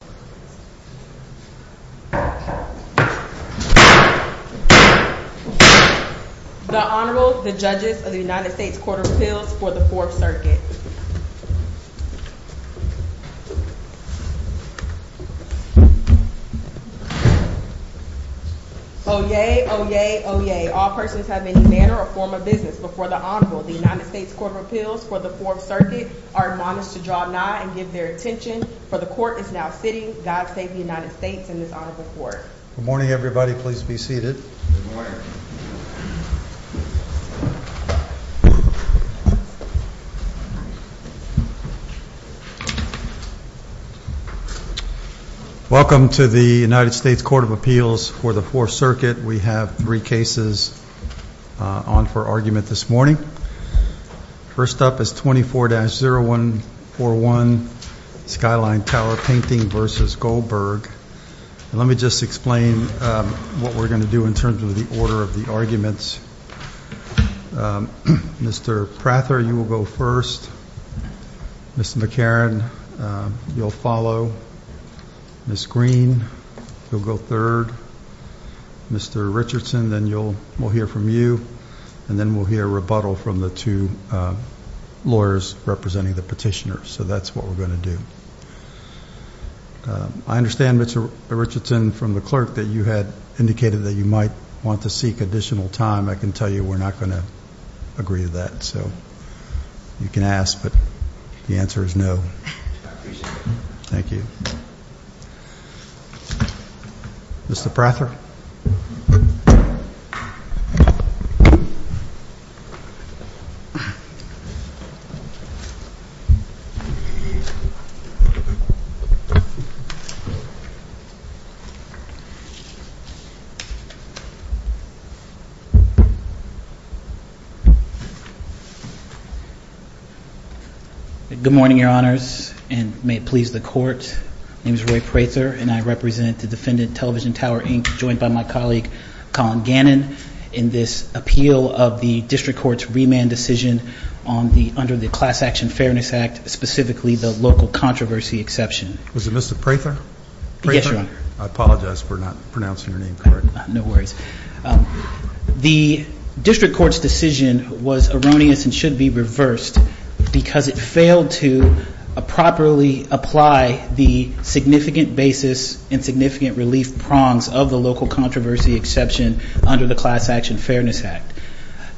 The Honorable, the Judges of the United States Court of Appeals for the Fourth Circuit. Oyez! Oyez! Oyez! All persons have any manner or form of business before the Honorable. The United States Court of Appeals for the Fourth Circuit are admonished to draw nigh and give their attention for the Court is now sitting. God save the United States and this Honorable Court. Good morning, everybody. Please be seated. Welcome to the United States Court of Appeals for the Fourth Circuit. We have three cases on for argument this morning. First up is 24-0141, Skyline Tower Painting v. Goldberg. Let me just explain what we're going to do in terms of the order of the arguments. Mr. Prather, you will go first. Mr. McCarran, you'll follow. Ms. Green, you'll go third. Mr. Richardson, then we'll hear from you. And then we'll hear rebuttal from the two lawyers representing the petitioners. So that's what we're going to do. I understand, Mr. Richardson, from the clerk that you had indicated that you might want to seek additional time. I can tell you we're not going to agree to that. So you can ask, but the answer is no. I appreciate it. Thank you. Mr. Prather. Good morning, Your Honors, and may it please the Court. My name is Roy Prather, and I represent the defendant Television Tower, Inc., joined by my colleague, Colin Gannon, in this appeal of the district court's remand decision under the Class Action Fairness Act, specifically the local controversy exception. Was it Mr. Prather? Yes, Your Honor. I apologize for not pronouncing your name correctly. No worries. The district court's decision was erroneous and should be reversed because it failed to properly apply the significant basis and significant relief prongs of the local controversy exception under the Class Action Fairness Act.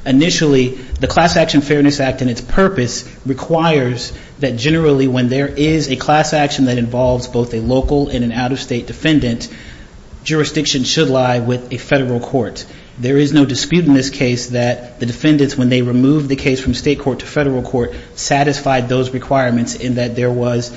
Initially, the Class Action Fairness Act and its purpose requires that generally when there is a class action that involves both a local and an out-of-state defendant, jurisdiction should lie with a federal court. There is no dispute in this case that the defendants, when they removed the case from state court to federal court, satisfied those requirements in that there was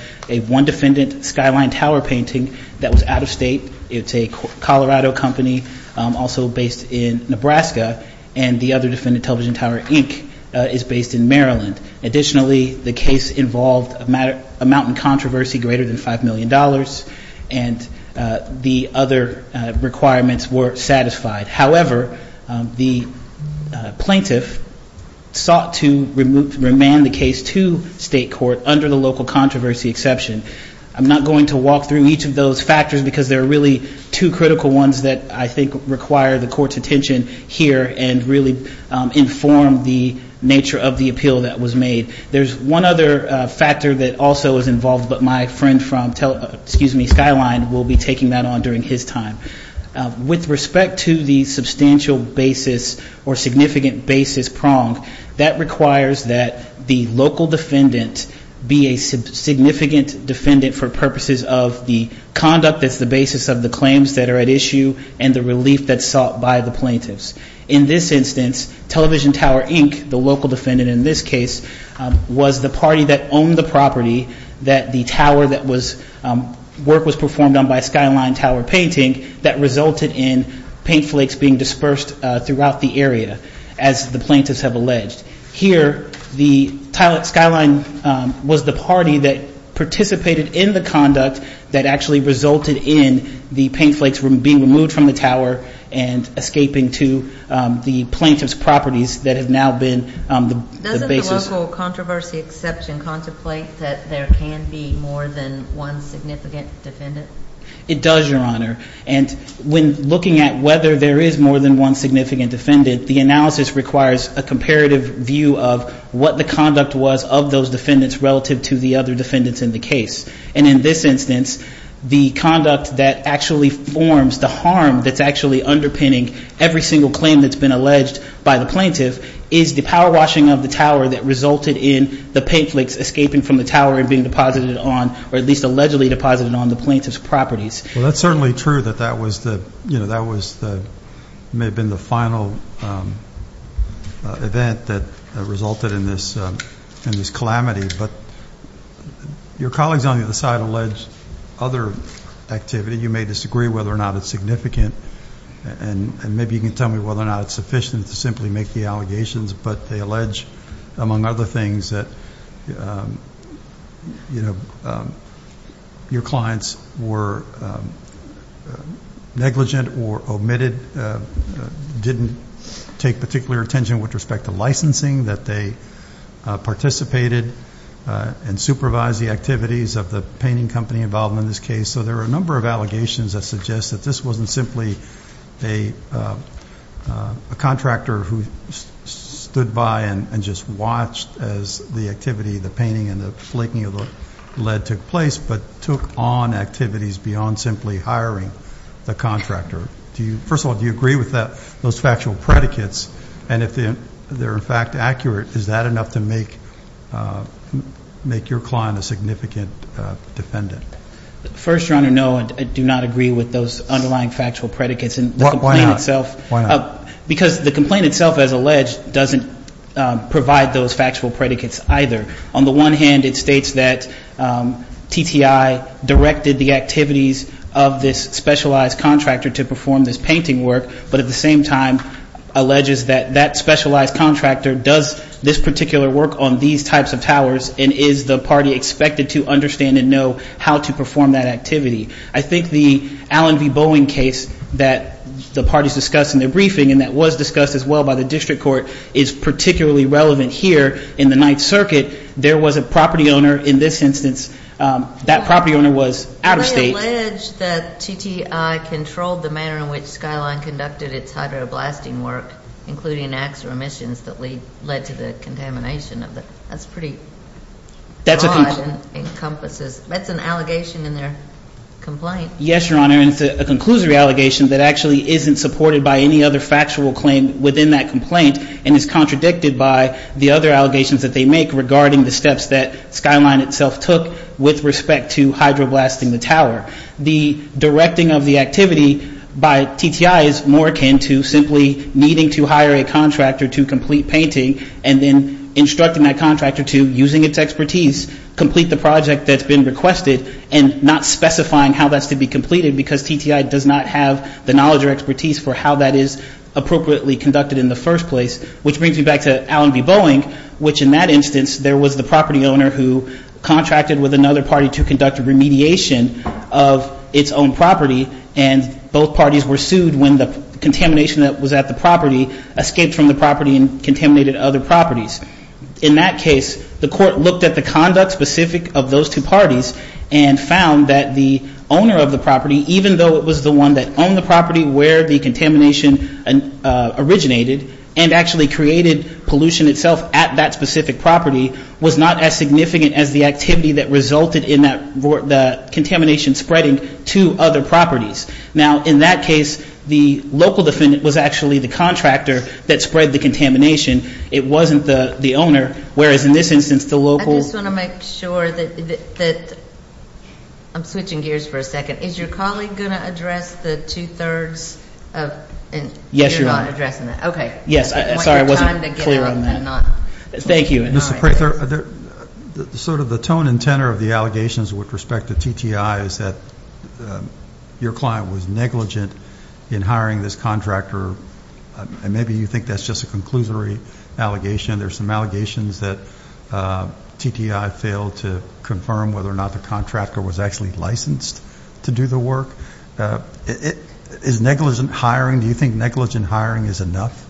one defendant, Skyline Tower Painting, that was out-of-state. It's a Colorado company, also based in Nebraska, and the other defendant, Television Tower, Inc., is based in Maryland. Additionally, the case involved a mountain controversy greater than $5 million, and the other requirements were satisfied. However, the plaintiff sought to remand the case to state court under the local controversy exception. I'm not going to walk through each of those factors because there are really two critical ones that I think require the court's attention here and really inform the nature of the appeal that was made. There's one other factor that also is involved, but my friend from, excuse me, Skyline will be taking that on during his time. With respect to the substantial basis or significant basis prong, that requires that the local defendant be a significant defendant for purposes of the conduct that's the basis of the claims that are at issue and the relief that's sought by the plaintiffs. In this instance, Television Tower, Inc., the local defendant in this case, was the party that owned the property that the tower that was work was performed on by Skyline Tower Painting that resulted in paint flakes being dispersed throughout the area, as the plaintiffs have alleged. Here, the Skyline was the party that participated in the conduct that actually resulted in the paint flakes being removed from the tower and escaping to the plaintiff's properties that have now been the basis. Doesn't the local controversy exception contemplate that there can be more than one significant defendant? It does, Your Honor, and when looking at whether there is more than one significant defendant, the analysis requires a comparative view of what the conduct was of those defendants relative to the other defendants in the case. And in this instance, the conduct that actually forms the harm that's actually underpinning every single claim that's been alleged by the plaintiff is the power washing of the tower that resulted in the paint flakes escaping from the tower and being deposited on, or at least allegedly deposited on, the plaintiff's properties. Well, that's certainly true that that may have been the final event that resulted in this calamity, but your colleagues on the other side allege other activity. You may disagree whether or not it's significant, and maybe you can tell me whether or not it's sufficient to simply make the allegations, but they allege, among other things, that your clients were negligent or omitted, didn't take particular attention with respect to licensing, that they participated and supervised the activities of the painting company involved in this case. So there are a number of allegations that suggest that this wasn't simply a contractor who stood by and just watched as the activity of the painting and the flaking of the lead took place, but took on activities beyond simply hiring the contractor. First of all, do you agree with those factual predicates? And if they're, in fact, accurate, is that enough to make your client a significant defendant? First, Your Honor, no, I do not agree with those underlying factual predicates. Why not? Because the complaint itself, as alleged, doesn't provide those factual predicates either. On the one hand, it states that TTI directed the activities of this specialized contractor to perform this painting work, but at the same time alleges that that specialized contractor does this particular work on these types of towers and is the party expected to understand and know how to perform that activity. I think the Allen v. Boeing case that the parties discussed in their briefing and that was discussed as well by the district court is particularly relevant here in the Ninth Circuit. There was a property owner in this instance. That property owner was out of state. They allege that TTI controlled the manner in which Skyline conducted its hydroblasting work, including acts or omissions that led to the contamination. That's pretty broad and encompasses. That's an allegation in their complaint. Yes, Your Honor, and it's a conclusory allegation that actually isn't supported by any other factual claim within that complaint and is contradicted by the other allegations that they make regarding the steps that Skyline itself took with respect to hydroblasting the tower. The directing of the activity by TTI is more akin to simply needing to hire a contractor to complete painting and then instructing that contractor to, using its expertise, complete the project that's been requested and not specifying how that's to be completed because TTI does not have the knowledge or expertise for how that is appropriately conducted in the first place, which brings me back to Allen v. Boeing, which in that instance, there was the property owner who contracted with another party to conduct a remediation of its own property and both parties were sued when the contamination that was at the property escaped from the property and contaminated other properties. In that case, the court looked at the conduct specific of those two parties and found that the owner of the property, even though it was the one that owned the property where the contamination originated and actually created pollution itself at that specific property, was not as significant as the activity that resulted in that contamination spreading to other properties. Now, in that case, the local defendant was actually the contractor that spread the contamination. It wasn't the owner, whereas in this instance, the local ---- I just want to make sure that the ---- I'm switching gears for a second. Is your colleague going to address the two-thirds of ---- Yes, Your Honor. Okay. Yes. Sorry, I wasn't clear on that. Thank you. Mr. Prather, sort of the tone and tenor of the allegations with respect to TTI is that your client was negligent in hiring this contractor and maybe you think that's just a conclusory allegation. There are some allegations that TTI failed to confirm whether or not the contractor was actually licensed to do the work. Is negligent hiring? Do you think negligent hiring is enough?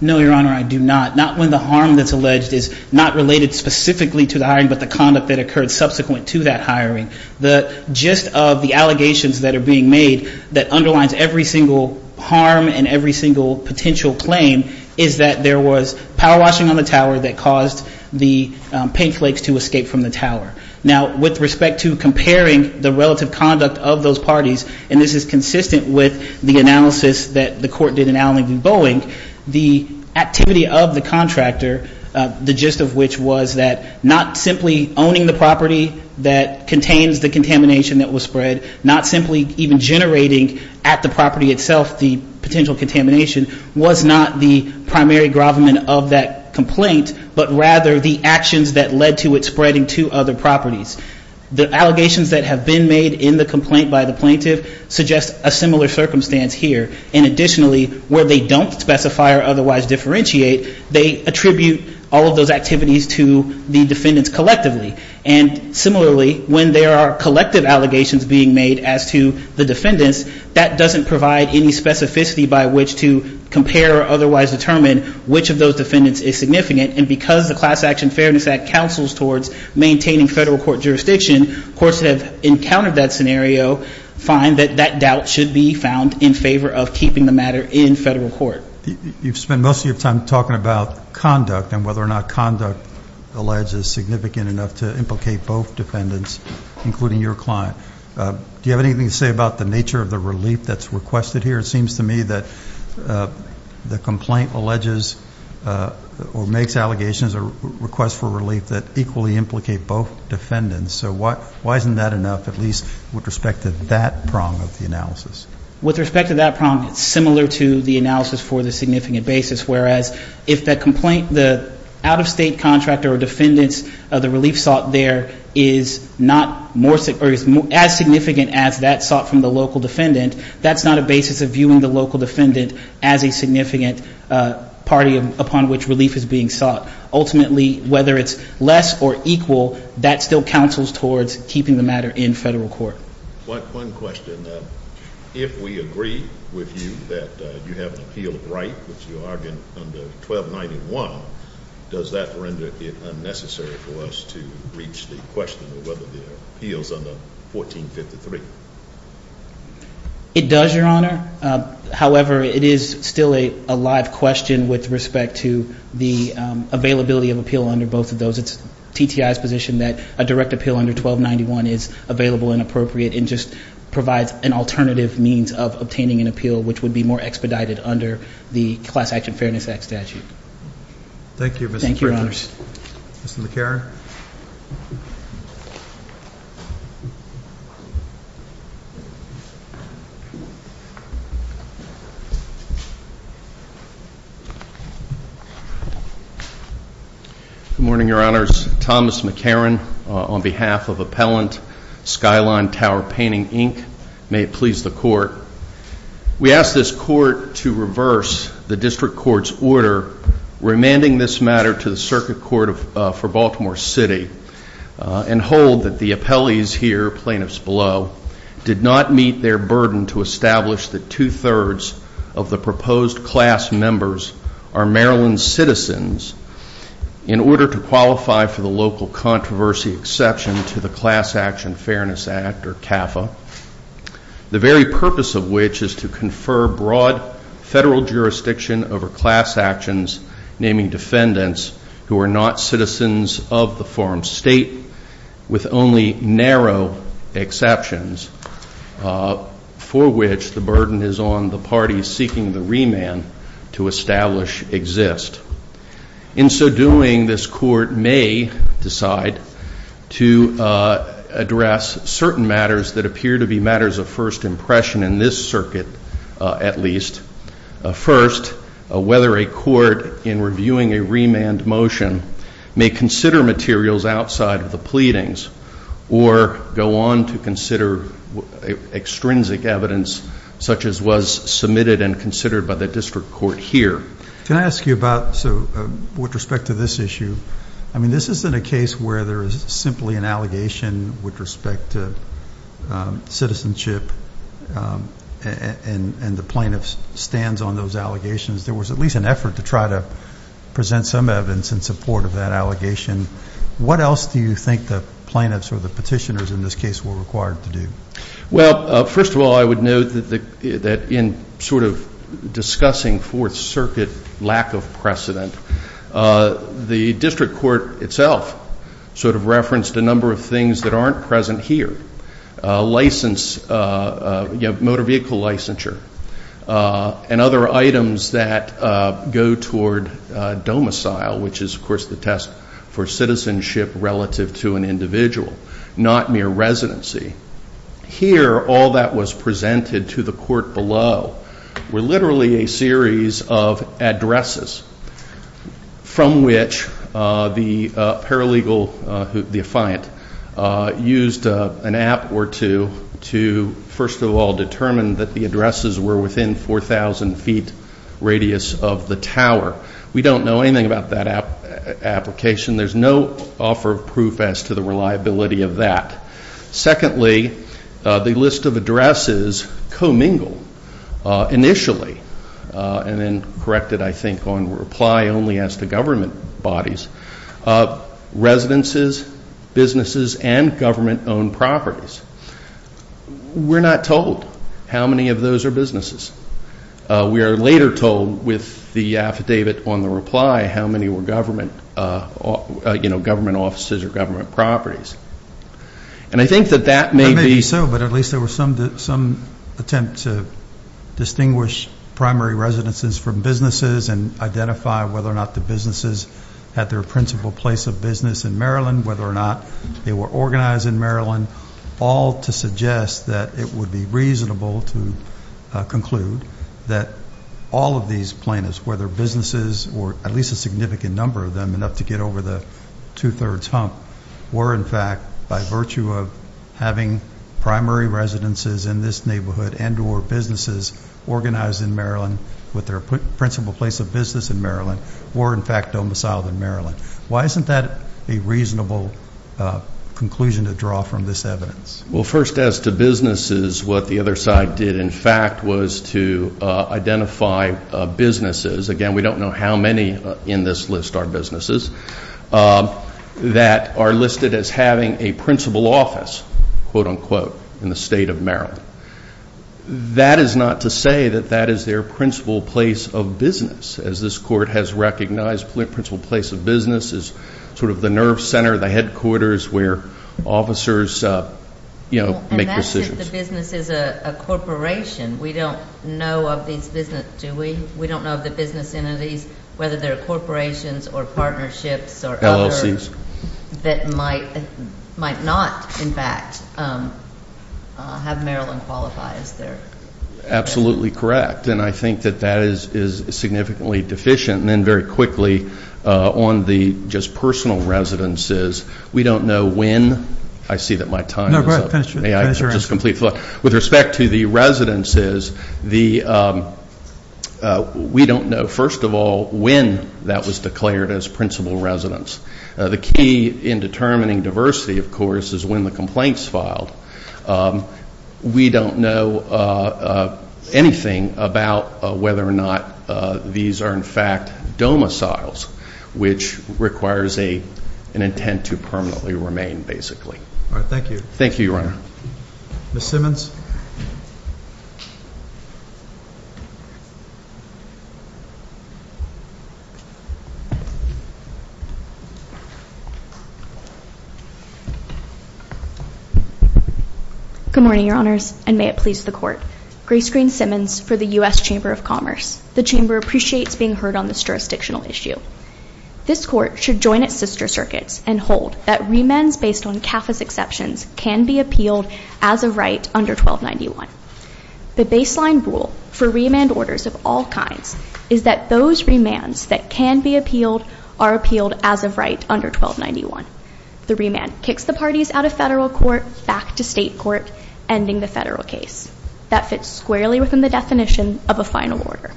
No, Your Honor, I do not. Not when the harm that's alleged is not related specifically to the hiring, but the conduct that occurred subsequent to that hiring. The gist of the allegations that are being made that underlines every single harm and every single potential claim is that there was power washing on the tower that caused the paint flakes to escape from the tower. Now, with respect to comparing the relative conduct of those parties, and this is consistent with the analysis that the court did in Allentown v. Boeing, the activity of the contractor, the gist of which was that not simply owning the property that contains the contamination that was spread, not simply even generating at the property itself the potential contamination, was not the primary government of that complaint, but rather the actions that led to it spreading to other properties. The allegations that have been made in the complaint by the plaintiff suggest a similar circumstance here. And additionally, where they don't specify or otherwise differentiate, they attribute all of those activities to the defendants collectively. And similarly, when there are collective allegations being made as to the defendants, that doesn't provide any specificity by which to compare or otherwise determine which of those defendants is significant. And because the Class Action Fairness Act counsels towards maintaining federal court jurisdiction, courts that have encountered that scenario find that that doubt should be found in favor of keeping the matter in federal court. You've spent most of your time talking about conduct and whether or not conduct alleged is significant enough to implicate both defendants, including your client. Do you have anything to say about the nature of the relief that's requested here? It seems to me that the complaint alleges or makes allegations or requests for relief that equally implicate both defendants. So why isn't that enough, at least with respect to that prong of the analysis? With respect to that prong, it's similar to the analysis for the significant basis, whereas if that complaint, the out-of-state contractor or defendants, the relief sought there is not as significant as that sought from the local defendant, that's not a basis of viewing the local defendant as a significant party upon which relief is being sought. Ultimately, whether it's less or equal, that still counsels towards keeping the matter in federal court. One question. If we agree with you that you have an appeal of right, which you argued under 1291, does that render it unnecessary for us to reach the question of whether there are appeals under 1453? It does, Your Honor. However, it is still a live question with respect to the availability of appeal under both of those. It's TTI's position that a direct appeal under 1291 is available and appropriate and just provides an alternative means of obtaining an appeal, which would be more expedited under the Class Action Fairness Act statute. Thank you, Mr. Pritchett. Mr. McCarron. Good morning, Your Honors. Thomas McCarron on behalf of Appellant Skyline Tower Painting, Inc. May it please the Court. We ask this Court to reverse the District Court's order remanding this matter to the Circuit Court for Baltimore City and hold that the appellees here, plaintiffs below, did not meet their burden to establish that two-thirds of the proposed class members are Maryland citizens in order to qualify for the local controversy exception to the Class Action Fairness Act, or CAFA. The very purpose of which is to confer broad federal jurisdiction over class actions, naming defendants who are not citizens of the form state, with only narrow exceptions, for which the burden is on the parties seeking the remand to establish exist. In so doing, this Court may decide to address certain matters that appear to be matters of first impression in this circuit, at least. First, whether a court in reviewing a remand motion may consider materials outside of the pleadings or go on to consider extrinsic evidence such as was submitted and considered by the District Court here. Can I ask you about, with respect to this issue, I mean this isn't a case where there is simply an allegation with respect to citizenship and the plaintiff stands on those allegations. There was at least an effort to try to present some evidence in support of that allegation. What else do you think the plaintiffs or the petitioners in this case were required to do? Well, first of all, I would note that in sort of discussing Fourth Circuit lack of precedent, the District Court itself sort of referenced a number of things that aren't present here. License, motor vehicle licensure, and other items that go toward domicile, which is, of course, the test for citizenship relative to an individual, not mere residency. Here, all that was presented to the court below were literally a series of addresses from which the paralegal, the affiant, used an app or two to, first of all, determine that the addresses were within 4,000 feet radius of the tower. We don't know anything about that application. There's no offer of proof as to the reliability of that. Secondly, the list of addresses commingled initially and then corrected, I think, on reply only as to government bodies, residences, businesses, and government-owned properties. We're not told how many of those are businesses. We are later told with the affidavit on the reply how many were government offices or government properties. And I think that that may be so, but at least there were some attempts to distinguish primary residences from businesses and identify whether or not the businesses had their principal place of business in Maryland, whether or not they were organized in Maryland, all to suggest that it would be reasonable to conclude that all of these plaintiffs, whether businesses or at least a significant number of them, enough to get over the two-thirds hump, were, in fact, by virtue of having primary residences in this neighborhood and or businesses organized in Maryland with their principal place of business in Maryland, were, in fact, domiciled in Maryland. Why isn't that a reasonable conclusion to draw from this evidence? Well, first, as to businesses, what the other side did, in fact, was to identify businesses. Again, we don't know how many in this list are businesses that are listed as having a principal office, quote, unquote, in the state of Maryland. That is not to say that that is their principal place of business, as this court has recognized principal place of business is sort of the nerve center, the headquarters, where officers, you know, make decisions. And that's if the business is a corporation. We don't know of these businesses, do we? We don't know of the business entities, whether they're corporations or partnerships or others. LLCs. That might not, in fact, have Maryland qualifies there. Absolutely correct. And I think that that is significantly deficient. And then very quickly, on the just personal residences, we don't know when. I see that my time is up. No, go ahead. Finish your answer. With respect to the residences, we don't know, first of all, when that was declared as principal residence. The key in determining diversity, of course, is when the complaint is filed. We don't know anything about whether or not these are, in fact, domiciles, which requires an intent to permanently remain, basically. All right. Thank you. Thank you, Your Honor. Ms. Simmons. Good morning, Your Honors, and may it please the Court. Grace Green Simmons for the U.S. Chamber of Commerce. The Chamber appreciates being heard on this jurisdictional issue. This Court should join its sister circuits and hold that remands based on CAFA's exceptions can be appealed as of right under 1291. The baseline rule for remand orders of all kinds is that those remands that can be appealed are appealed as of right under 1291. The remand kicks the parties out of federal court, back to state court, ending the federal case. That fits squarely within the definition of a final order.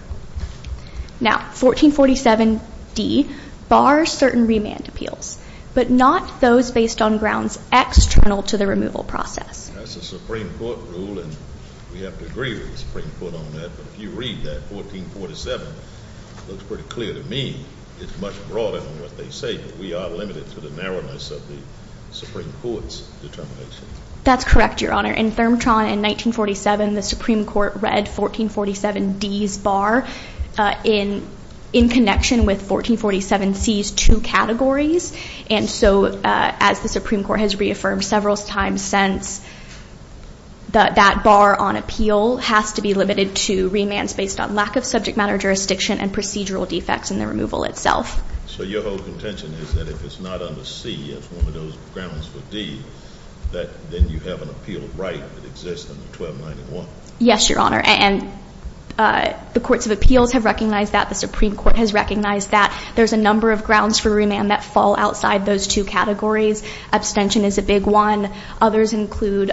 Now, 1447D bars certain remand appeals, but not those based on grounds external to the removal process. That's a Supreme Court rule, and we have to agree with the Supreme Court on that. But if you read that 1447, it looks pretty clear to me. It's much broader than what they say, but we are limited to the narrowness of the Supreme Court's determination. That's correct, Your Honor. In Thermatron in 1947, the Supreme Court read 1447D's bar in connection with 1447C's two categories. And so as the Supreme Court has reaffirmed several times since, that bar on appeal has to be limited to remands based on lack of subject matter jurisdiction and procedural defects in the removal itself. So your whole contention is that if it's not under C, it's one of those grounds for D, that then you have an appeal right that exists under 1291? Yes, Your Honor. And the courts of appeals have recognized that. The Supreme Court has recognized that. There's a number of grounds for remand that fall outside those two categories. Abstention is a big one. Others include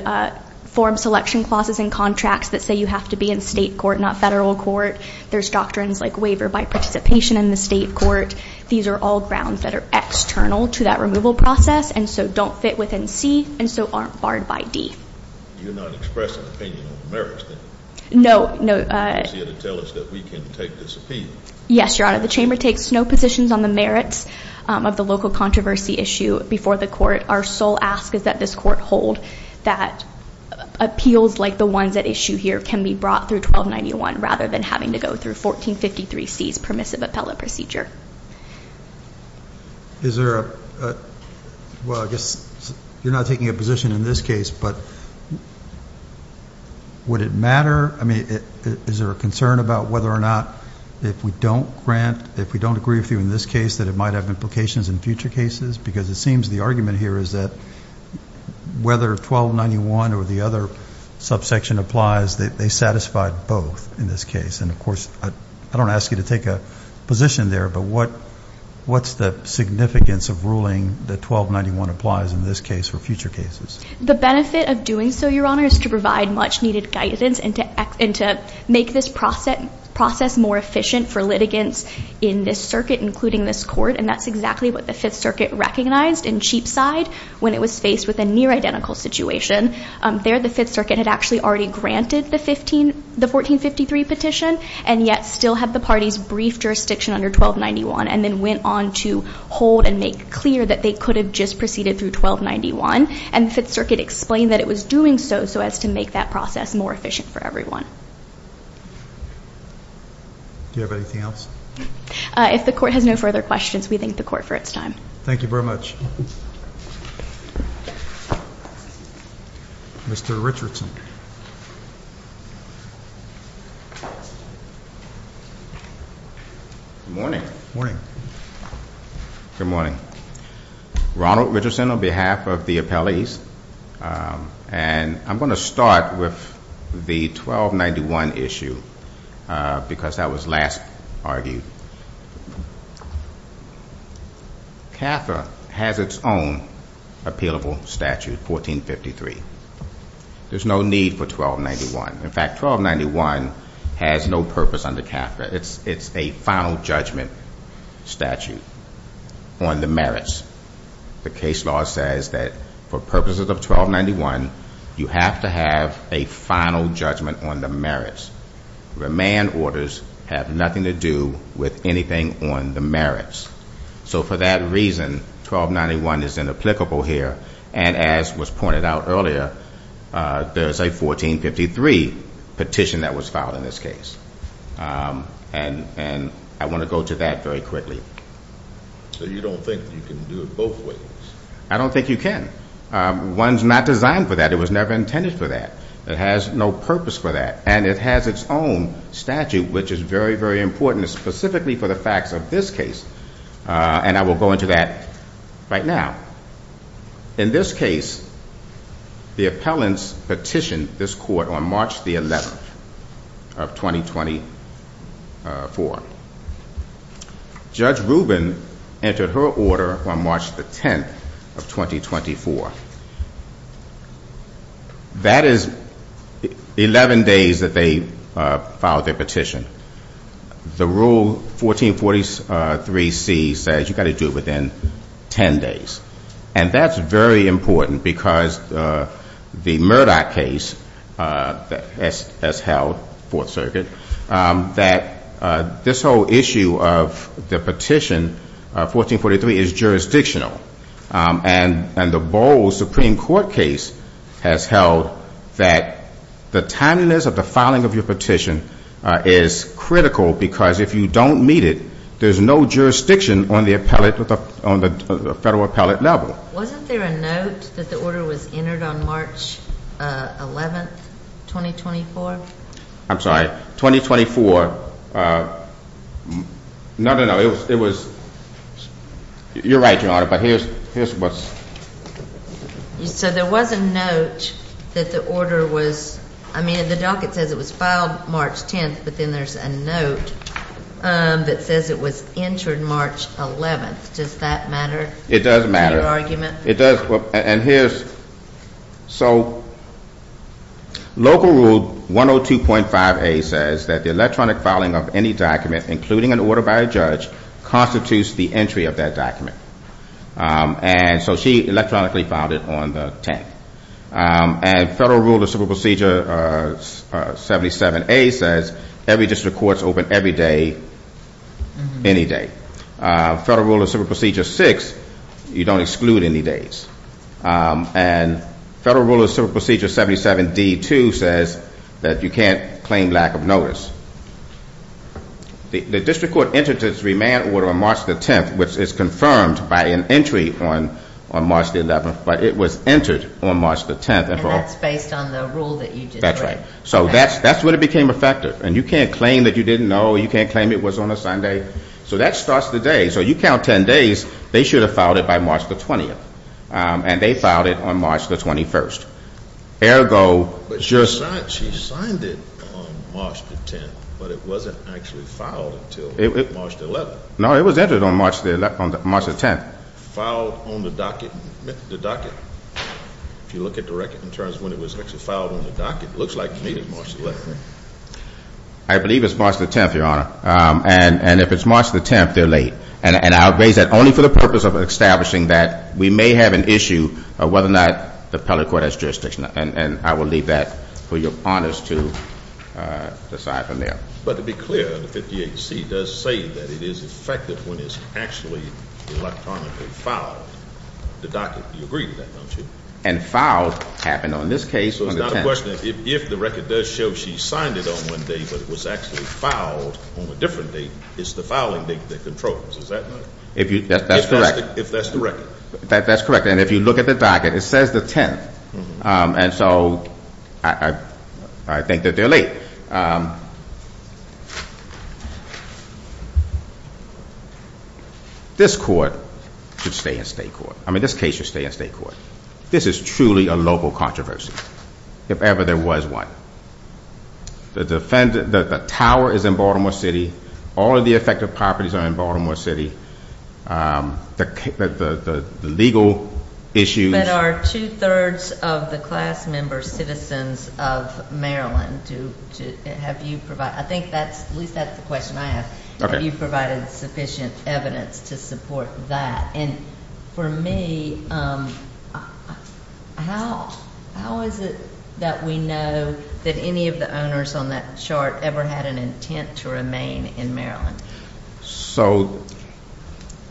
form selection clauses and contracts that say you have to be in state court, not federal court. There's doctrines like waiver by participation in the state court. These are all grounds that are external to that removal process and so don't fit within C and so aren't barred by D. You're not expressing an opinion on the merits then? No, no. So you're going to tell us that we can take this appeal? Yes, Your Honor. The chamber takes no positions on the merits of the local controversy issue before the court. Our sole ask is that this court hold that appeals like the ones at issue here can be brought through 1291 rather than having to go through 1453C's permissive appellate procedure. Is there a, well, I guess you're not taking a position in this case, but would it matter? I mean, is there a concern about whether or not if we don't grant, if we don't agree with you in this case that it might have implications in future cases? Because it seems the argument here is that whether 1291 or the other subsection applies, they satisfy both in this case. And, of course, I don't ask you to take a position there, but what's the significance of ruling that 1291 applies in this case for future cases? The benefit of doing so, Your Honor, is to provide much-needed guidance and to make this process more efficient for litigants in this circuit, including this court. And that's exactly what the Fifth Circuit recognized in Cheapside when it was faced with a near-identical situation. There, the Fifth Circuit had actually already granted the 1453 petition and yet still had the parties' brief jurisdiction under 1291 and then went on to hold and make clear that they could have just proceeded through 1291. And the Fifth Circuit explained that it was doing so so as to make that process more efficient for everyone. Do you have anything else? If the Court has no further questions, we thank the Court for its time. Thank you very much. Mr. Richardson. Good morning. Good morning. Ronald Richardson on behalf of the appellees. And I'm going to start with the 1291 issue because that was last argued. CAFRA has its own appealable statute, 1453. There's no need for 1291. In fact, 1291 has no purpose under CAFRA. It's a final judgment statute on the merits. The case law says that for purposes of 1291, you have to have a final judgment on the merits. Remand orders have nothing to do with anything on the merits. So for that reason, 1291 is inapplicable here. And as was pointed out earlier, there's a 1453 petition that was filed in this case. And I want to go to that very quickly. So you don't think you can do it both ways? I don't think you can. One's not designed for that. It was never intended for that. It has no purpose for that. And it has its own statute, which is very, very important, specifically for the facts of this case. And I will go into that right now. In this case, the appellants petitioned this court on March the 11th of 2024. Judge Rubin entered her order on March the 10th of 2024. That is 11 days that they filed their petition. The Rule 1443C says you've got to do it within 10 days. And that's very important because the Murdoch case that has held Fourth Circuit, that this whole issue of the petition, 1443, is jurisdictional. And the Bowles Supreme Court case has held that the timeliness of the filing of your petition is critical because if you don't meet it, there's no jurisdiction on the federal appellate level. Wasn't there a note that the order was entered on March 11th, 2024? I'm sorry. 2024. No, no, no. It was. You're right, Your Honor. But here's what's. So there was a note that the order was. I mean, the docket says it was filed March 10th, but then there's a note that says it was entered March 11th. Does that matter? It does matter. To your argument? It does. And here's. So Local Rule 102.5A says that the electronic filing of any document, including an order by a judge, constitutes the entry of that document. And so she electronically filed it on the 10th. And Federal Rule of Civil Procedure 77A says every district court is open every day, any day. Federal Rule of Civil Procedure 6, you don't exclude any days. And Federal Rule of Civil Procedure 77D2 says that you can't claim lack of notice. The district court entered this remand order on March 10th, which is confirmed by an entry on March 11th, but it was entered on March 10th. And that's based on the rule that you did, correct? That's right. So that's when it became effective. And you can't claim that you didn't know. You can't claim it was on a Sunday. So that starts the day. So you count 10 days, they should have filed it by March 20th. And they filed it on March 21st. Ergo. But she signed it on March 10th, but it wasn't actually filed until March 11th. No, it was entered on March 10th. Filed on the docket. If you look at the record in terms of when it was actually filed on the docket, it looks like May of March 11th. I believe it's March 10th, Your Honor. And if it's March 10th, they're late. And I raise that only for the purpose of establishing that we may have an issue of whether or not the appellate court has jurisdiction. And I will leave that for your honors to decide from there. But to be clear, the 58C does say that it is effective when it's actually electronically filed. The docket, you agree with that, don't you? And filed happened on this case on the 10th. My question is, if the record does show she signed it on one date but it was actually filed on a different date, it's the filing date that controls. Is that right? That's correct. If that's the record. That's correct. And if you look at the docket, it says the 10th. And so I think that they're late. This court should stay in state court. I mean, this case should stay in state court. This is truly a local controversy. If ever there was one. The tower is in Baltimore City. All of the effective properties are in Baltimore City. The legal issues. But are two-thirds of the class member citizens of Maryland to have you provide? I think that's, at least that's the question I ask. Have you provided sufficient evidence to support that? And for me, how is it that we know that any of the owners on that chart ever had an intent to remain in Maryland? So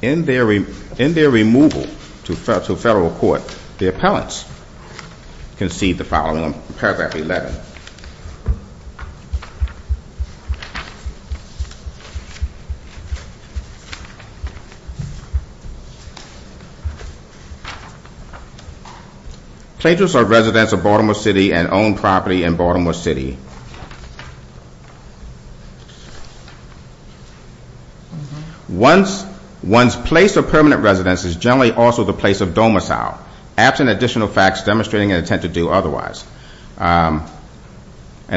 in their removal to federal court, the appellants concede the following, paragraph 11. Pleasures of residence of Baltimore City and own property in Baltimore City. One's place of permanent residence is generally also the place of domicile, absent additional facts demonstrating an intent to do otherwise. And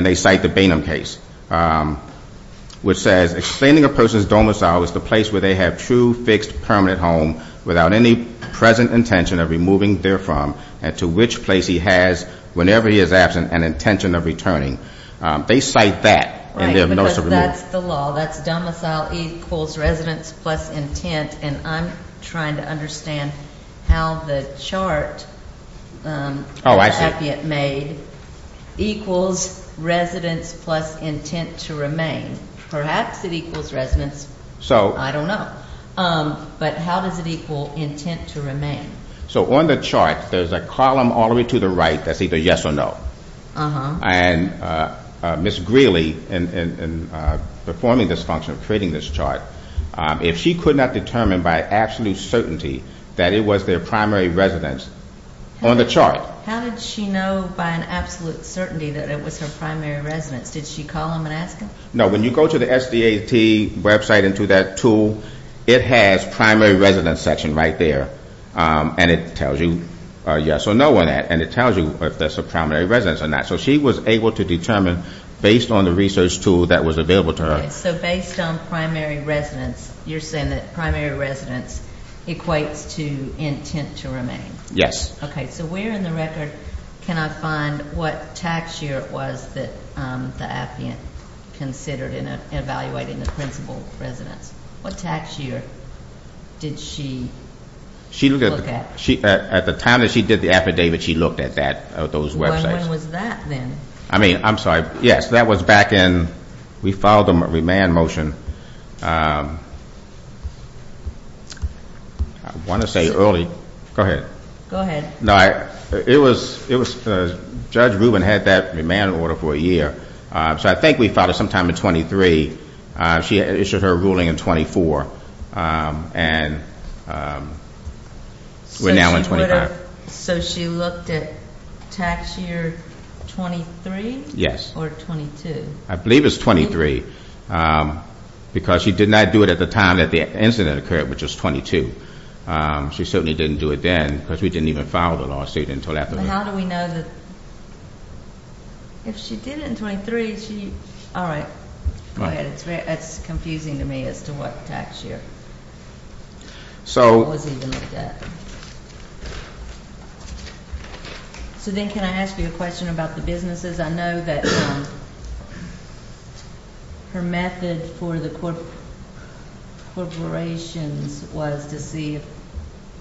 they cite the Bainham case, which says, explaining a person's domicile is the place where they have true, fixed, permanent home without any present intention of removing therefrom and to which place he has, whenever he is absent, an intention of returning. They cite that in their notice of removal. Right, because that's the law. That's domicile equals residence plus intent. And I'm trying to understand how the chart the appellant made equals residence plus intent to remain. Perhaps it equals residence. I don't know. But how does it equal intent to remain? So on the chart, there's a column all the way to the right that's either yes or no. And Ms. Greeley, in performing this function, creating this chart, if she could not determine by absolute certainty that it was their primary residence on the chart. How did she know by an absolute certainty that it was her primary residence? Did she call them and ask them? No. When you go to the SDAT website and to that tool, it has primary residence section right there. And it tells you yes or no on that. And it tells you if that's a primary residence or not. So she was able to determine based on the research tool that was available to her. So based on primary residence, you're saying that primary residence equates to intent to remain? Yes. Okay. So where in the record can I find what tax year it was that the appellant considered in evaluating the principal residence? What tax year did she look at? At the time that she did the affidavit, she looked at that, those websites. When was that then? I mean, I'm sorry. Yes, that was back in we filed a remand motion. I want to say early. Go ahead. Go ahead. No, it was Judge Rubin had that remand order for a year. So I think we filed it sometime in 23. She issued her ruling in 24. And we're now in 25. So she looked at tax year 23? Yes. Or 22? I believe it's 23 because she did not do it at the time that the incident occurred, which was 22. She certainly didn't do it then because we didn't even file the lawsuit until after. How do we know that if she did it in 23, she all right. Go ahead. It's confusing to me as to what tax year. So then can I ask you a question about the businesses? I know that her method for the corporations was to see,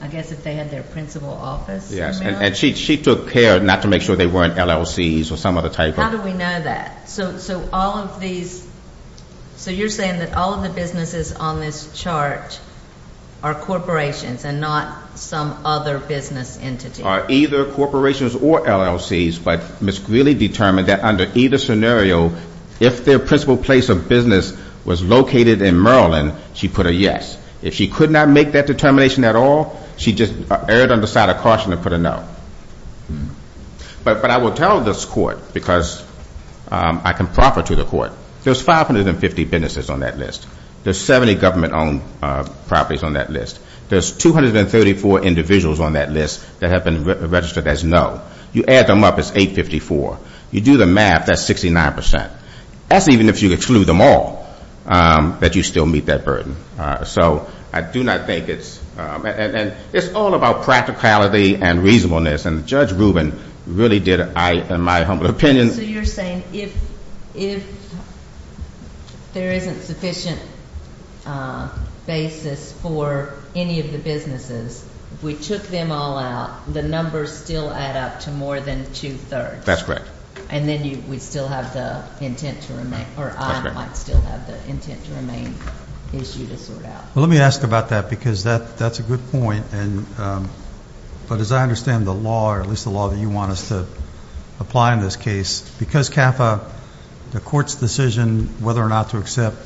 I guess, if they had their principal office. And she took care not to make sure they weren't LLCs or some other type of. How do we know that? So all of these, so you're saying that all of the businesses on this chart are corporations and not some other business entities? Either corporations or LLCs, but Ms. Greeley determined that under either scenario, if their principal place of business was located in Maryland, she put a yes. If she could not make that determination at all, she just erred on the side of caution and put a no. But I will tell this court, because I can proffer to the court, there's 550 businesses on that list. There's 70 government-owned properties on that list. There's 234 individuals on that list that have been registered as no. You add them up, it's 854. You do the math, that's 69%. That's even if you exclude them all, that you still meet that burden. So I do not think it's, and it's all about practicality and reasonableness. And Judge Rubin really did, in my humble opinion. So you're saying if there isn't sufficient basis for any of the businesses, if we took them all out, the numbers still add up to more than two-thirds. That's correct. And then we'd still have the intent to remain, or I might still have the intent to remain issue to sort out. Well, let me ask about that, because that's a good point. But as I understand the law, or at least the law that you want us to apply in this case, because, Kafa, the court's decision whether or not to accept,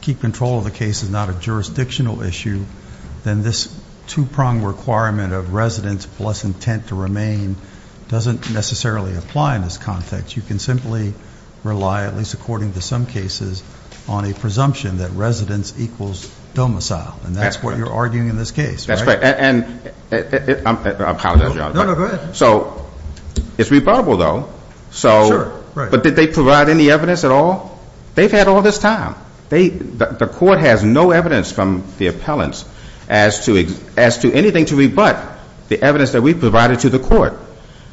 keep control of the case is not a jurisdictional issue, then this two-prong requirement of residence plus intent to remain doesn't necessarily apply in this context. You can simply rely, at least according to some cases, on a presumption that residence equals domicile. And that's what you're arguing in this case, right? That's right. And I'm counting on you. No, no, go ahead. So it's rebuttable, though. Sure, right. But did they provide any evidence at all? They've had all this time. The court has no evidence from the appellants as to anything to rebut the evidence that we've provided to the court.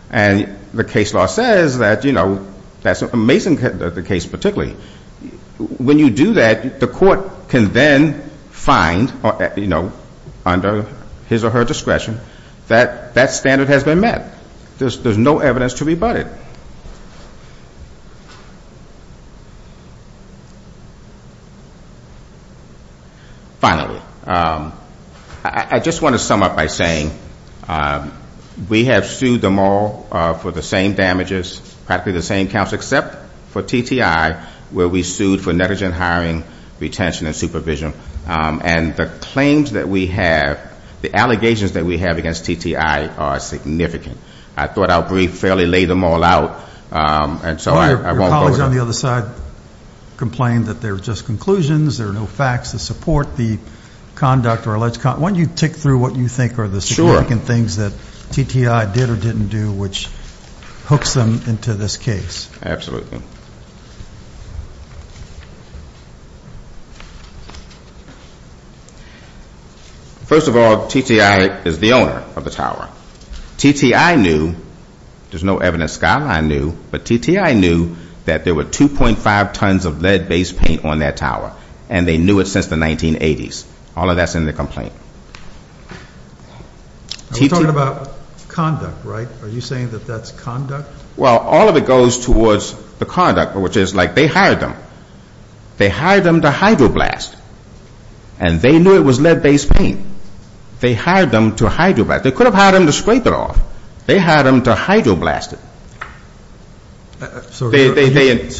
And the case law says that, you know, that's a Mason case particularly. When you do that, the court can then find, you know, under his or her discretion, that that standard has been met. There's no evidence to rebut it. Finally, I just want to sum up by saying we have sued them all for the same damages, practically the same counts except for TTI where we sued for negligent hiring, retention, and supervision. And the claims that we have, the allegations that we have against TTI are significant. I thought I would fairly lay them all out, and so I won't go there. Your colleagues on the other side complained that they were just conclusions, there were no facts to support the conduct or alleged conduct. Why don't you tick through what you think are the significant things that TTI did or didn't do which hooks them into this case? Absolutely. First of all, TTI is the owner of the tower. TTI knew, there's no evidence Skyline knew, but TTI knew that there were 2.5 tons of lead-based paint on that tower, and they knew it since the 1980s. All of that's in the complaint. We're talking about conduct, right? Are you saying that that's conduct? Well, all of it goes towards the conduct, which is like they hired them. They hired them to hydroblast, and they knew it was lead-based paint. They hired them to hydroblast. They could have hired them to scrape it off. They hired them to hydroblast it.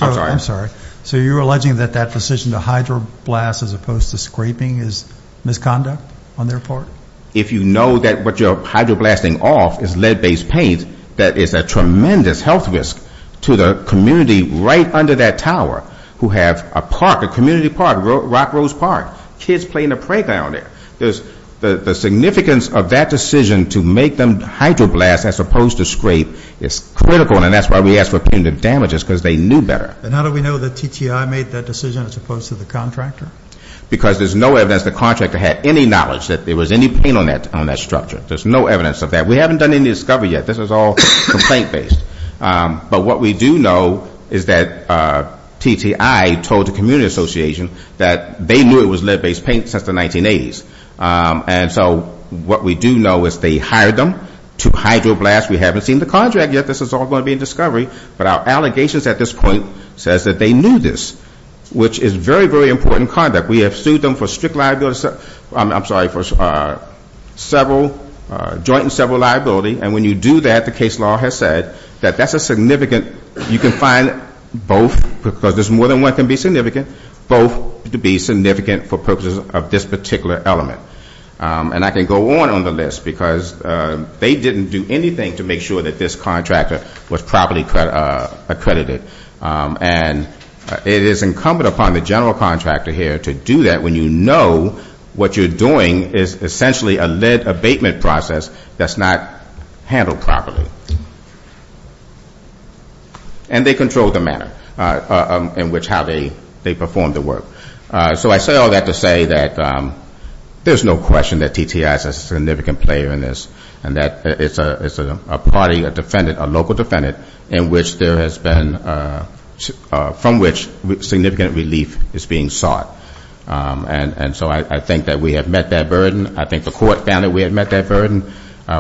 I'm sorry. So you're alleging that that decision to hydroblast as opposed to scraping is misconduct on their part? If you know that what you're hydroblasting off is lead-based paint, that is a tremendous health risk to the community right under that tower who have a park, a community park, Rock Rose Park, kids playing in the playground there. The significance of that decision to make them hydroblast as opposed to scrape is critical, and that's why we ask for punitive damages, because they knew better. And how do we know that TTI made that decision as opposed to the contractor? Because there's no evidence the contractor had any knowledge that there was any paint on that structure. There's no evidence of that. We haven't done any discovery yet. This is all complaint-based. But what we do know is that TTI told the community association that they knew it was lead-based paint since the 1980s. And so what we do know is they hired them to hydroblast. We haven't seen the contract yet. This is all going to be in discovery. But our allegations at this point says that they knew this, which is very, very important conduct. We have sued them for strict liability. I'm sorry, for several, joint and several liability. And when you do that, the case law has said that that's a significant, you can find both, because there's more than one that can be significant, both to be significant for purposes of this particular element. And I can go on on the list because they didn't do anything to make sure that this contractor was properly accredited. And it is incumbent upon the general contractor here to do that when you know what you're doing is essentially a lead abatement process that's not handled properly. And they control the manner in which how they perform the work. So I say all that to say that there's no question that TTI is a significant player in this and that it's a party, a defendant, a local defendant, in which there has been, from which significant relief is being sought. And so I think that we have met that burden. I think the court found that we had met that burden.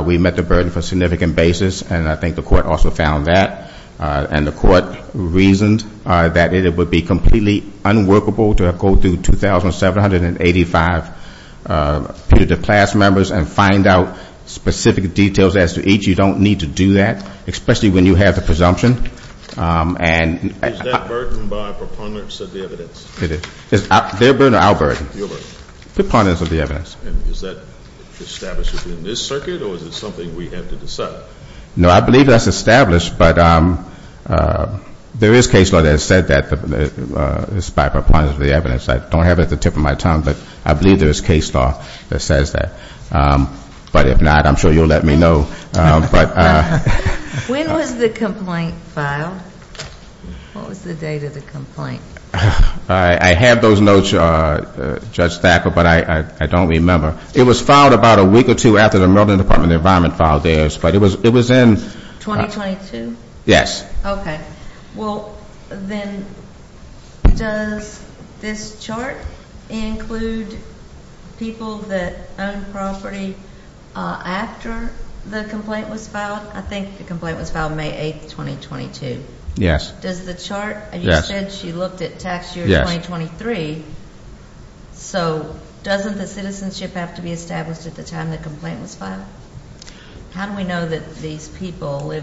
We met the burden for a significant basis, and I think the court also found that. And the court reasoned that it would be completely unworkable to go through 2,785 Peter DePlass members and find out specific details as to each. You don't need to do that, especially when you have the presumption. Is that burden by proponents of the evidence? It is. Their burden or our burden? Your burden. Proponents of the evidence. And is that established within this circuit, or is it something we have to decide? No, I believe that's established, but there is case law that said that, despite proponents of the evidence. I don't have it at the tip of my tongue, but I believe there is case law that says that. But if not, I'm sure you'll let me know. When was the complaint filed? What was the date of the complaint? I have those notes, Judge Thacker, but I don't remember. It was filed about a week or two after the Maryland Department of the Environment filed theirs, but it was in. Yes. Okay. Well, then does this chart include people that own property after the complaint was filed? I think the complaint was filed May 8, 2022. Yes. Does the chart, you said she looked at tax year 2023. So doesn't the citizenship have to be established at the time the complaint was filed? How do we know that these people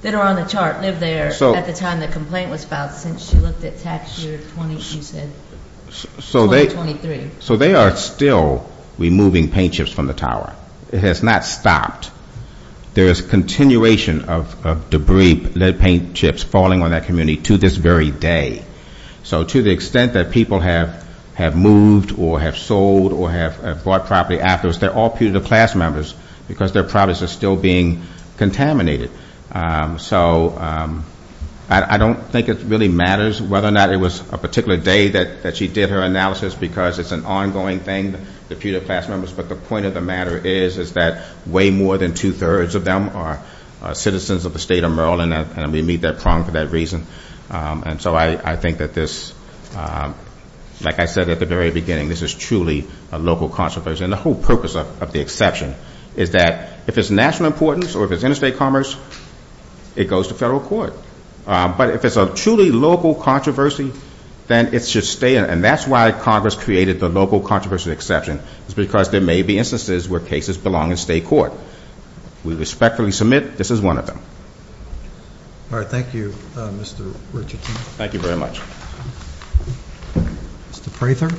that are on the chart lived there at the time the complaint was filed since she looked at tax year 2023? So they are still removing paint chips from the tower. It has not stopped. There is a continuation of debris, lead paint chips falling on that community to this very day. So to the extent that people have moved or have sold or have bought property afterwards, they're all putative class members because their properties are still being contaminated. So I don't think it really matters whether or not it was a particular day that she did her analysis because it's an ongoing thing, the putative class members. But the point of the matter is that way more than two-thirds of them are citizens of the state of Maryland, and we meet that prong for that reason. And so I think that this, like I said at the very beginning, this is truly a local controversy. And the whole purpose of the exception is that if it's national importance or if it's interstate commerce, it goes to federal court. But if it's a truly local controversy, then it should stay. And that's why Congress created the local controversy exception is because there may be instances where cases belong in state court. We respectfully submit this is one of them. All right. Thank you, Mr. Richardson. Thank you very much. Mr. Prather.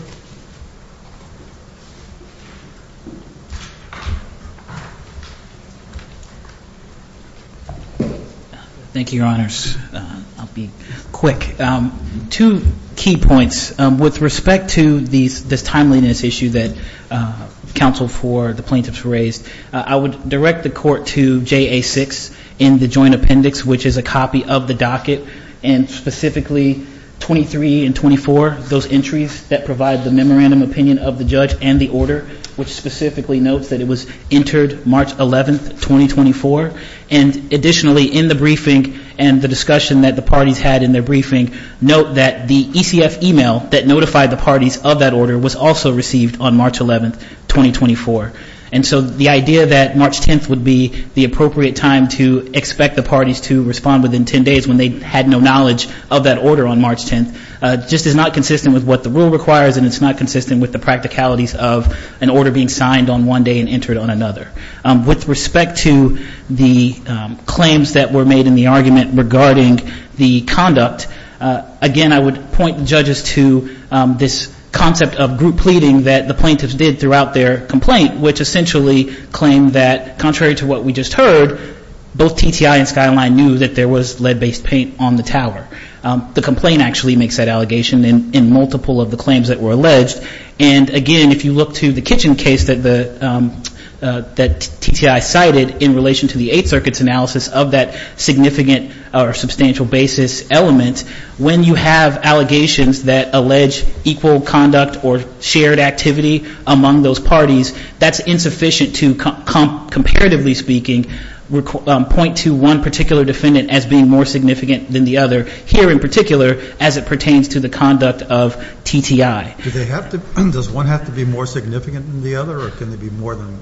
Thank you, Your Honors. I'll be quick. Two key points. With respect to this timeliness issue that counsel for the plaintiffs raised, I would direct the court to JA6 in the joint appendix, which is a copy of the docket, and specifically 23 and 24, those entries that provide the memorandum opinion of the judge and the order, which specifically notes that it was entered March 11, 2024. And additionally, in the briefing and the discussion that the parties had in their briefing, note that the ECF email that notified the parties of that order was also received on March 11, 2024. And so the idea that March 10th would be the appropriate time to expect the parties to respond within 10 days when they had no knowledge of that order on March 10th just is not consistent with what the rule requires and it's not consistent with the practicalities of an order being signed on one day and entered on another. With respect to the claims that were made in the argument regarding the conduct, again, I would point the judges to this concept of group pleading that the plaintiffs did throughout their complaint, which essentially claimed that, contrary to what we just heard, both TTI and Skyline knew that there was lead-based paint on the tower. The complaint actually makes that allegation in multiple of the claims that were alleged. And, again, if you look to the kitchen case that TTI cited in relation to the Eighth Circuit's analysis of that significant or substantial basis element, when you have allegations that allege equal conduct or shared activity among those parties, that's insufficient to, comparatively speaking, point to one particular defendant as being more significant than the other here in particular as it pertains to the conduct of TTI. Does one have to be more significant than the other? Or can there be more than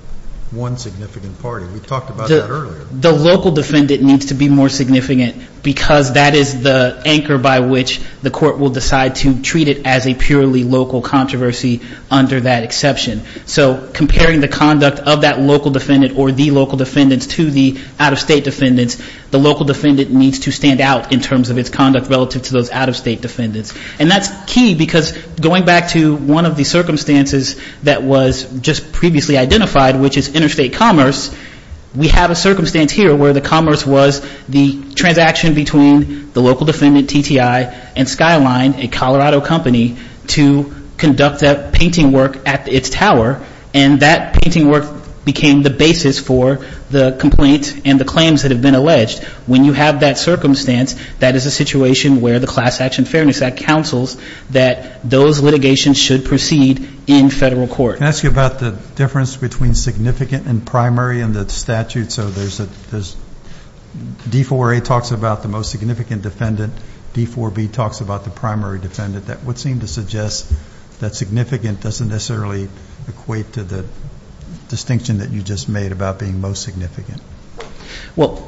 one significant party? We talked about that earlier. The local defendant needs to be more significant because that is the anchor by which the court will decide to treat it as a purely local controversy under that exception. So comparing the conduct of that local defendant or the local defendants to the out-of-state defendants, the local defendant needs to stand out in terms of its conduct relative to those out-of-state defendants. And that's key because going back to one of the circumstances that was just previously identified, which is interstate commerce, we have a circumstance here where the commerce was the transaction between the local defendant, TTI, and Skyline, a Colorado company, to conduct that painting work at its tower. And that painting work became the basis for the complaint and the claims that have been alleged. When you have that circumstance, that is a situation where the Class Action Fairness Act counsels that those litigations should proceed in Federal court. Can I ask you about the difference between significant and primary in the statute? So there's D-4A talks about the most significant defendant. D-4B talks about the primary defendant. That would seem to suggest that significant doesn't necessarily equate to the distinction that you just made about being most significant. Well,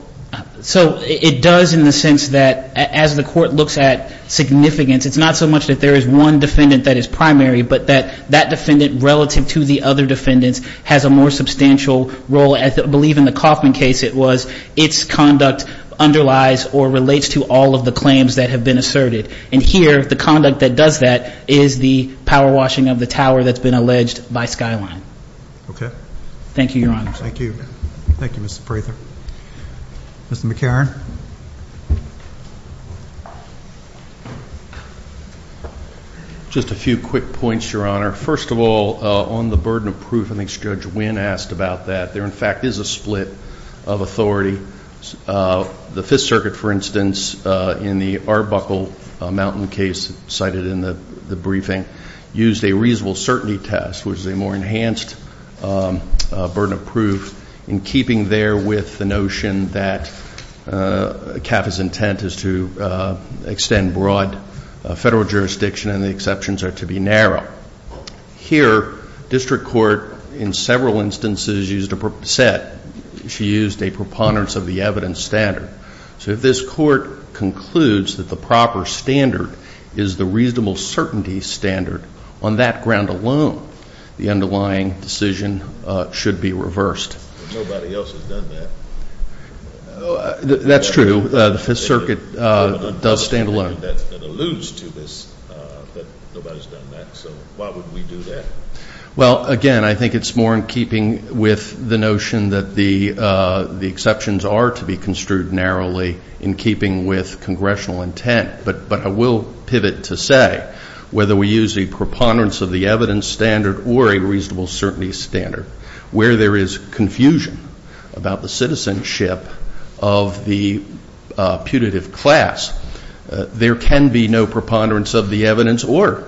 so it does in the sense that as the court looks at significance, it's not so much that there is one defendant that is primary but that that defendant relative to the other defendants has a more substantial role. I believe in the Kaufman case it was its conduct underlies or relates to all of the claims that have been asserted. And here the conduct that does that is the power washing of the tower that's been alleged by Skyline. Thank you, Your Honor. Thank you. Thank you, Mr. Prather. Mr. McCarron. Just a few quick points, Your Honor. First of all, on the burden of proof, I think Judge Wynn asked about that. There, in fact, is a split of authority. The Fifth Circuit, for instance, in the Arbuckle Mountain case cited in the briefing, used a reasonable certainty test, which is a more enhanced burden of proof, in keeping there with the notion that CAF's intent is to extend broad federal jurisdiction and the exceptions are to be narrow. Here, district court in several instances used a set. She used a preponderance of the evidence standard. So if this court concludes that the proper standard is the reasonable certainty standard, on that ground alone the underlying decision should be reversed. Nobody else has done that. That's true. The Fifth Circuit does stand alone. That alludes to this, that nobody's done that. So why would we do that? Well, again, I think it's more in keeping with the notion that the exceptions are to be construed narrowly in keeping with congressional intent. But I will pivot to say, whether we use a preponderance of the evidence standard or a reasonable certainty standard, where there is confusion about the citizenship of the putative class, there can be no preponderance of the evidence or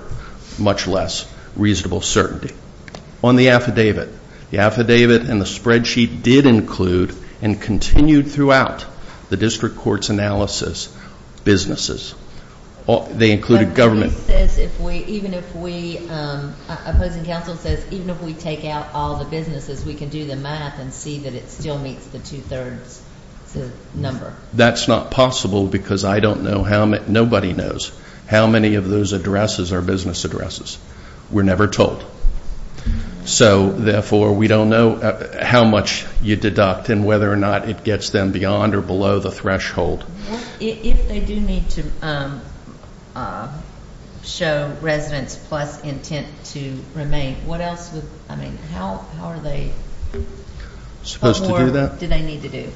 much less reasonable certainty. On the affidavit, the affidavit and the spreadsheet did include and continued throughout the district court's analysis businesses. They included government. Even if we, opposing counsel says, even if we take out all the businesses, we can do the math and see that it still meets the two-thirds number. That's not possible because I don't know how many, nobody knows how many of those addresses are business addresses. We're never told. So, therefore, we don't know how much you deduct and whether or not it gets them beyond or below the threshold. If they do need to show residence plus intent to remain, what else would, I mean, how are they? Supposed to do that? What more do they need to do?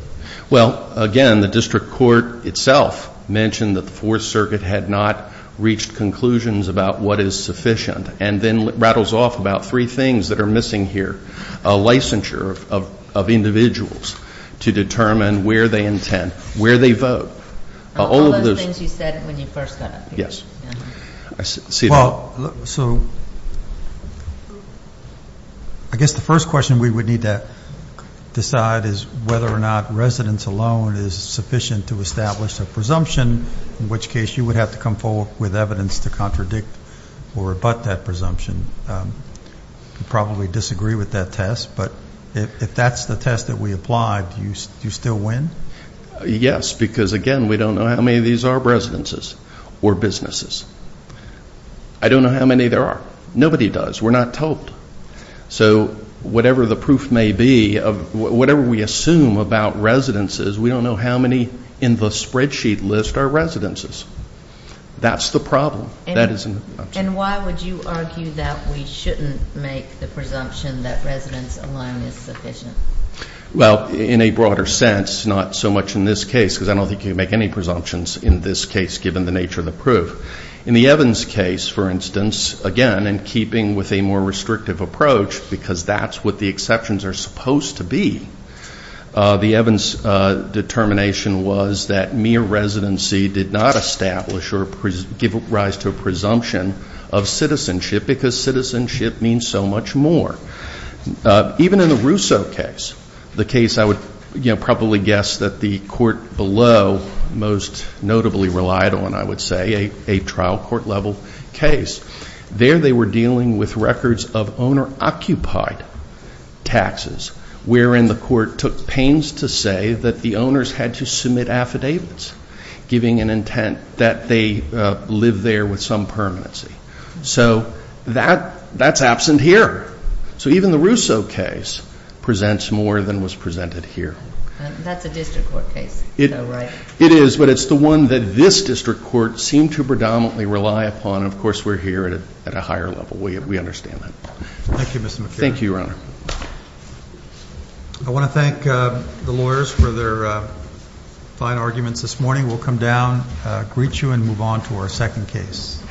Well, again, the district court itself mentioned that the Fourth Circuit had not reached conclusions about what is sufficient and then rattles off about three things that are missing here. A licensure of individuals to determine where they intend, where they vote. All of those things you said when you first got up here. Well, so I guess the first question we would need to decide is whether or not residence alone is sufficient to establish a presumption, in which case you would have to come forward with evidence to contradict or rebut that presumption. You'd probably disagree with that test, but if that's the test that we applied, do you still win? Yes, because, again, we don't know how many of these are residences or businesses. I don't know how many there are. Nobody does. We're not told. So whatever the proof may be of whatever we assume about residences, we don't know how many in the spreadsheet list are residences. That's the problem. And why would you argue that we shouldn't make the presumption that residence alone is sufficient? Well, in a broader sense, not so much in this case, because I don't think you can make any presumptions in this case, given the nature of the proof. In the Evans case, for instance, again, in keeping with a more restrictive approach, because that's what the exceptions are supposed to be, the Evans determination was that mere residency did not establish or give rise to a presumption of citizenship, because citizenship means so much more. Even in the Russo case, the case I would probably guess that the court below most notably relied on, I would say, a trial court-level case. There they were dealing with records of owner-occupied taxes, wherein the court took pains to say that the owners had to submit affidavits, giving an intent that they live there with some permanency. So that's absent here. So even the Russo case presents more than was presented here. That's a district court case, though, right? It is, but it's the one that this district court seemed to predominantly rely upon, and of course we're here at a higher level. We understand that. Thank you, Mr. McKibbin. Thank you, Your Honor. I want to thank the lawyers for their fine arguments this morning. We'll come down, greet you, and move on to our second case. Thank you.